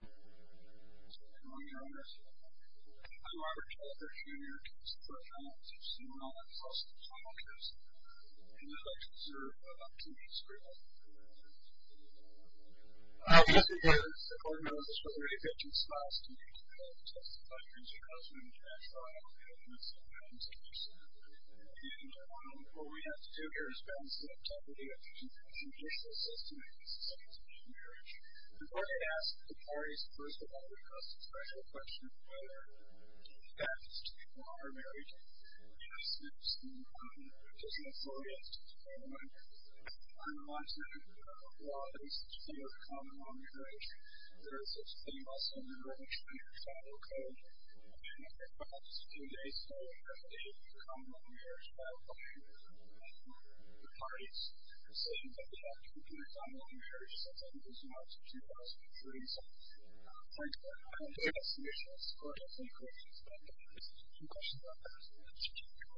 Good morning, Honors. I'm Robert Chalker, Jr. I'm a professor of finance at CML, and I'm also a law professor. I'd like to observe a few minutes for you. I'll just begin. The court knows that we're really pitching styles to each other. It's just a question of who's your husband, your ex-wife, or your husband's ex-wife. In general, what we have to do here is balance the integrity of judicial assessments, such as pre-marriage. The court had asked the parties, first of all, to address the special question of whether the ex-wife or married intercepts the disenfranchised family. On the one hand, we have a law that is considered a common-law marriage. There is such a thing also in the early 20th century code. And, perhaps, two days later, there's a common-law marriage by-election. The parties are saying that we have to put it on a law marriage, such that it is not a common-law marriage. For example, I don't think that's the issue in this court. I think that it's a common-law marriage. It's just a question of whether the ex-wife or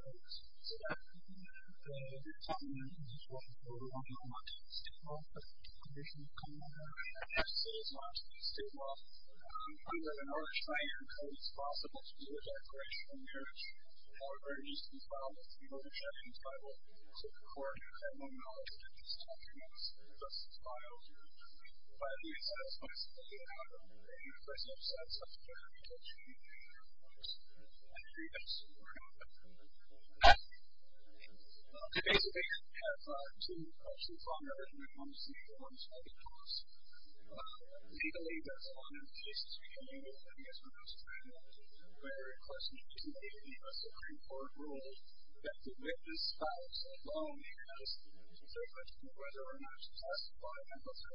married intercepts the family. The common-law marriage is a sort of borderline common-law marriage. It's a common-law marriage. It is not a common-law marriage. I'm going to try to explain as much as possible to you about common-law marriage. However, it needs to be followed. People who check the title of the court have no knowledge of this document. It's just a file. By the ex-wife's family, the person who said such a thing, they should be treated as a criminal. Today, we have two questions on marriage. We're going to see if one is valid to us. Legally, that's one. This is for you as an ex-wife's family. We're requesting today that the Supreme Court rule that the witness files alone because it's a question of whether or not the ex-wife or married intercepts the family. And based on the judgment of the court, that's a consensus that the woman can intercept the child. That is not a common-law marriage. It's a common-law marriage. It's not a common-law marriage. Thank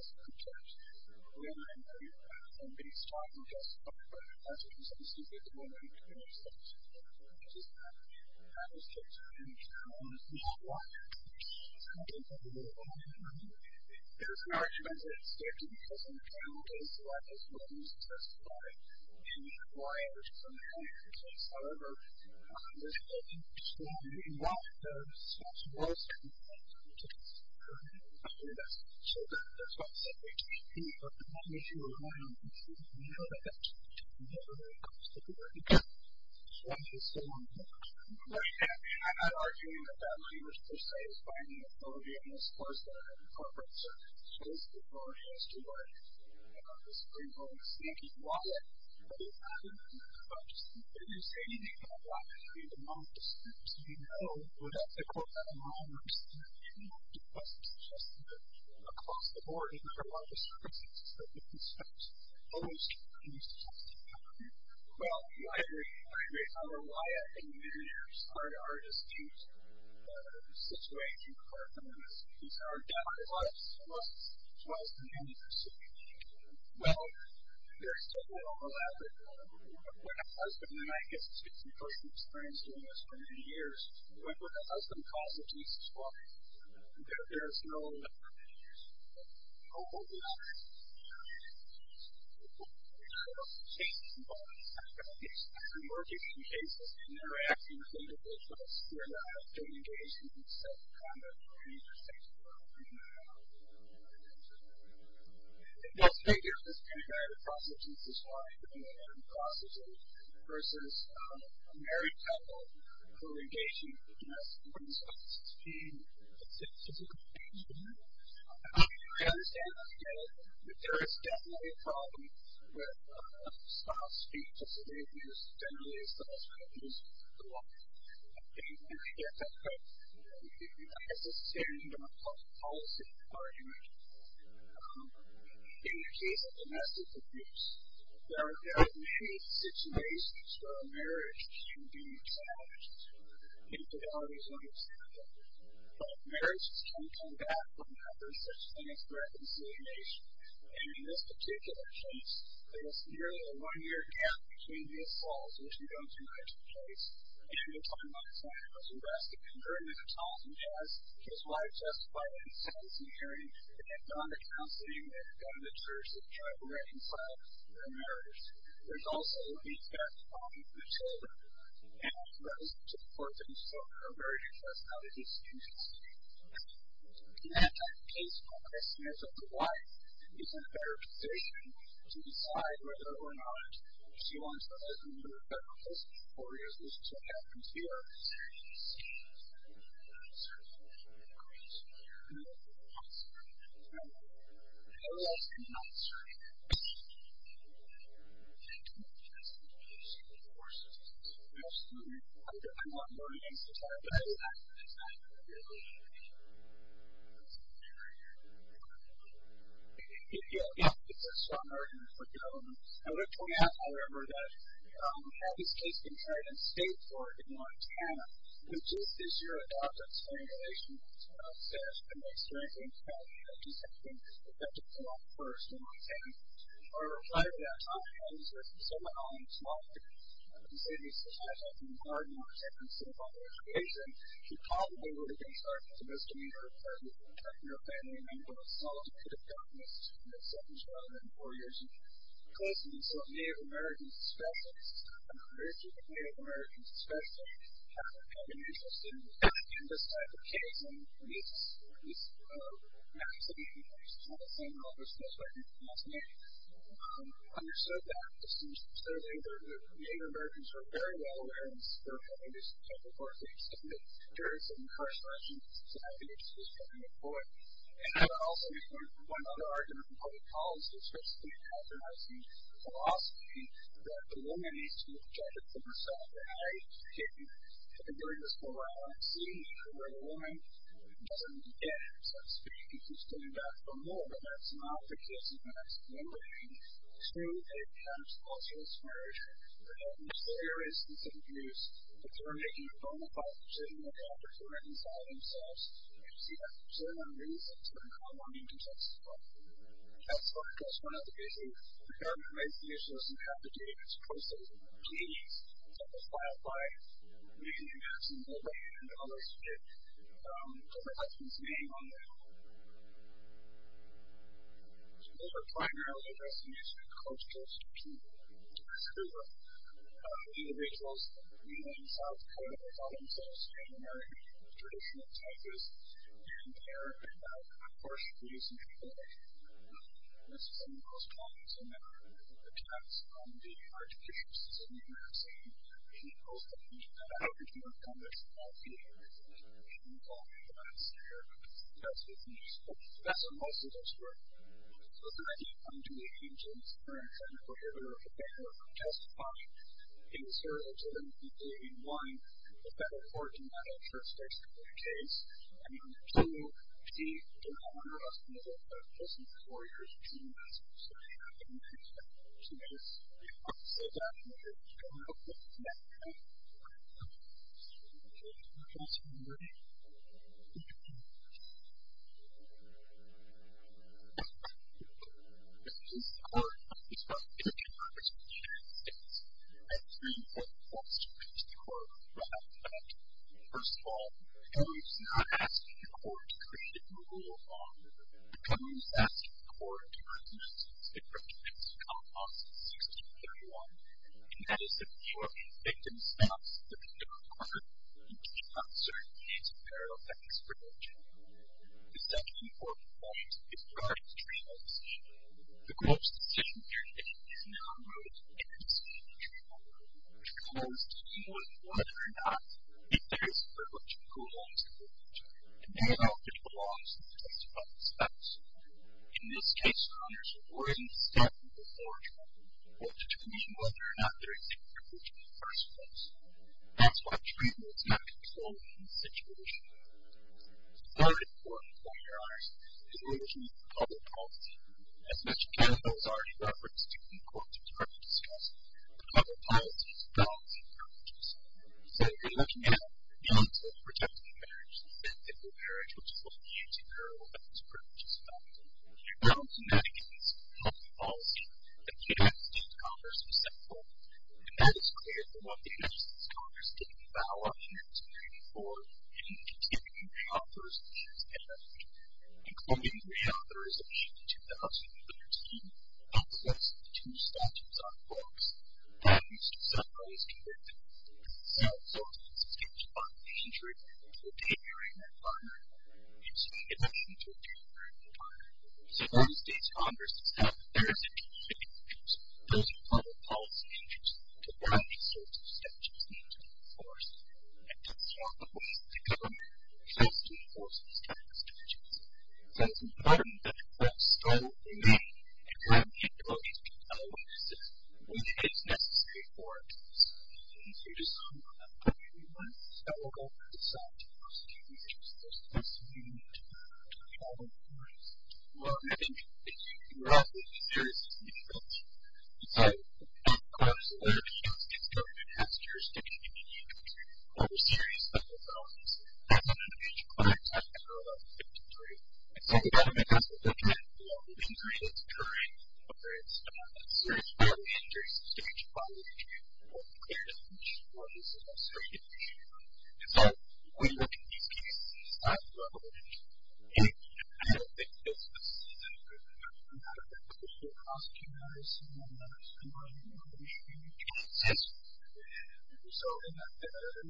you. Well, I agree. I agree. Well, there's no overlap. When a husband and I get 60-person experience doing this for many years, when a husband calls the Jesus walk, there is no overlap. There's a lot of cases involved. There's more different cases interacting with individual folks who are not out there engaging in self-conviction. These are things that we're working on. Well, speaking of this kind of narrative process, this is why I put in the word process, versus a marital corrugation of the domestic women's offices. I understand that there is definitely a problem with spouse speech, as it may be used generally as the husband is the wife. I understand that. But I guess it's a stand-alone policy argument. In the case of domestic abuse, there are many situations where marriage should be challenged. I think fidelity is one example. But marriages can come back whenever such things are reconciled. And in this particular case, there was nearly a one-year gap between the assaults, which we don't deny to the case, and the time that the father was arrested. And certainly the child he has, his wife, justifiably says he's married. They've gone to counseling. They've gone to church. They've tried to reconcile their marriage. There's also the effect on the children. And, of course, to the point that you spoke earlier, there's not a distinction. And in that type of case, the question is whether the wife is in a better position to decide whether or not she wants the husband to repent of this, or is this to happen to her. Certainly, of course. I mean, there's a possibility. But otherwise, I'm not certain. Thank you very much. That's the case. Of course. Absolutely. I want more names to come up. But I do have one. It's not going to be able to do the job. It's not going to be able to do the job. Yeah. It's a strong argument for government. I would have to point out, however, that we have this case being heard in state court in Montana, which is this year adopted. So in relation to what's been said, I just think we have to come up first in Montana. However, prior to that time, I was working with someone on a small group in St. Lucie High School, in the garden, and we were talking about the situation. She called me over to get started. She goes, to me, you're a partner. You're a partner in your family, and you have a solid set of governments, and your son was born four years ago. So Native Americans especially, I'm a very strong Native American, especially have an interest in this type of case. And it's actually interesting, and I was just very fascinated. I understood that. It seems to me that Native Americans are very well aware of this. They're having this type of work. They've seen it during some incarceration. So I think it's just something to point. And I would also just want to point another argument from public policy, which is the compromising philosophy, that the woman needs to judge it for herself. During this program, I've seen where a woman doesn't get, so to speak, if she's coming back for more, but that's not the case. And that's when we're seeing, too, a kind of spousal smear, where there's very specific views, but they're making a bona fide decision that they have to do it inside themselves, and you see that for certain reasons, but in common, in context, as well. That's one of the reasons we have to make the decision that we have to do it as a process, and please, don't just buy it by reading the ads and the way in which others put their husband's name on there. Those are primarily domestic, cultural, sexual, sexual, individuals in South Dakota who call themselves ordinary, traditional types, and they're, of course, producing people like you. This is one of those problems, in that the archbishop is in New Jersey, and he calls the people that have original conduct all the ordinary people, and he calls them the messiah. That's what he's called. That's what most of us are. So, the idea of coming to the age of marriage and the prohibition of the marriage is justified because there are certain people who, in one, the federal court in that church basically says, I mean, two, she did not want her husband to have sex just in the four years between marriage, so she had to make a choice between what to say that year and what to say that year. So, in terms of marriage, it's a different question. This is a hard one, because what I'm going to do now is to share six very important points to make to the court First of all, the court is not asking the court to create the rule of law. The court is asking the court to reduce the number of women who have sex in the church based on the law since 1631, and that is to ensure that the victim stops the criminal court and does not serve the needs of their own sex privilege. The second important point is regarding the treatment decision. The court's decision here today is not related to the decision to treat women. The court is dealing with whether or not if there is sexual privilege in the church, and then how it belongs in the case of sex. In this case, survivors have already stepped before treatment in order to determine whether or not there is sexual privilege in the first place. That's why treatment is not controlled in this situation. The third important point here is the illusion of public policy. As much as Canada was already referenced in the court's previous case, the public policy is about sex privileges. So, if you're looking at the principle of protecting marriage, the fact that the marriage was only used in parallel sex privileges is not important. Public policy the case of sexual privilege. In this case, the public policy against Congress was central. And that is clear from the evidence that Congress didn't have enough evidence case of the case of the case of the case of the case of the case of the case of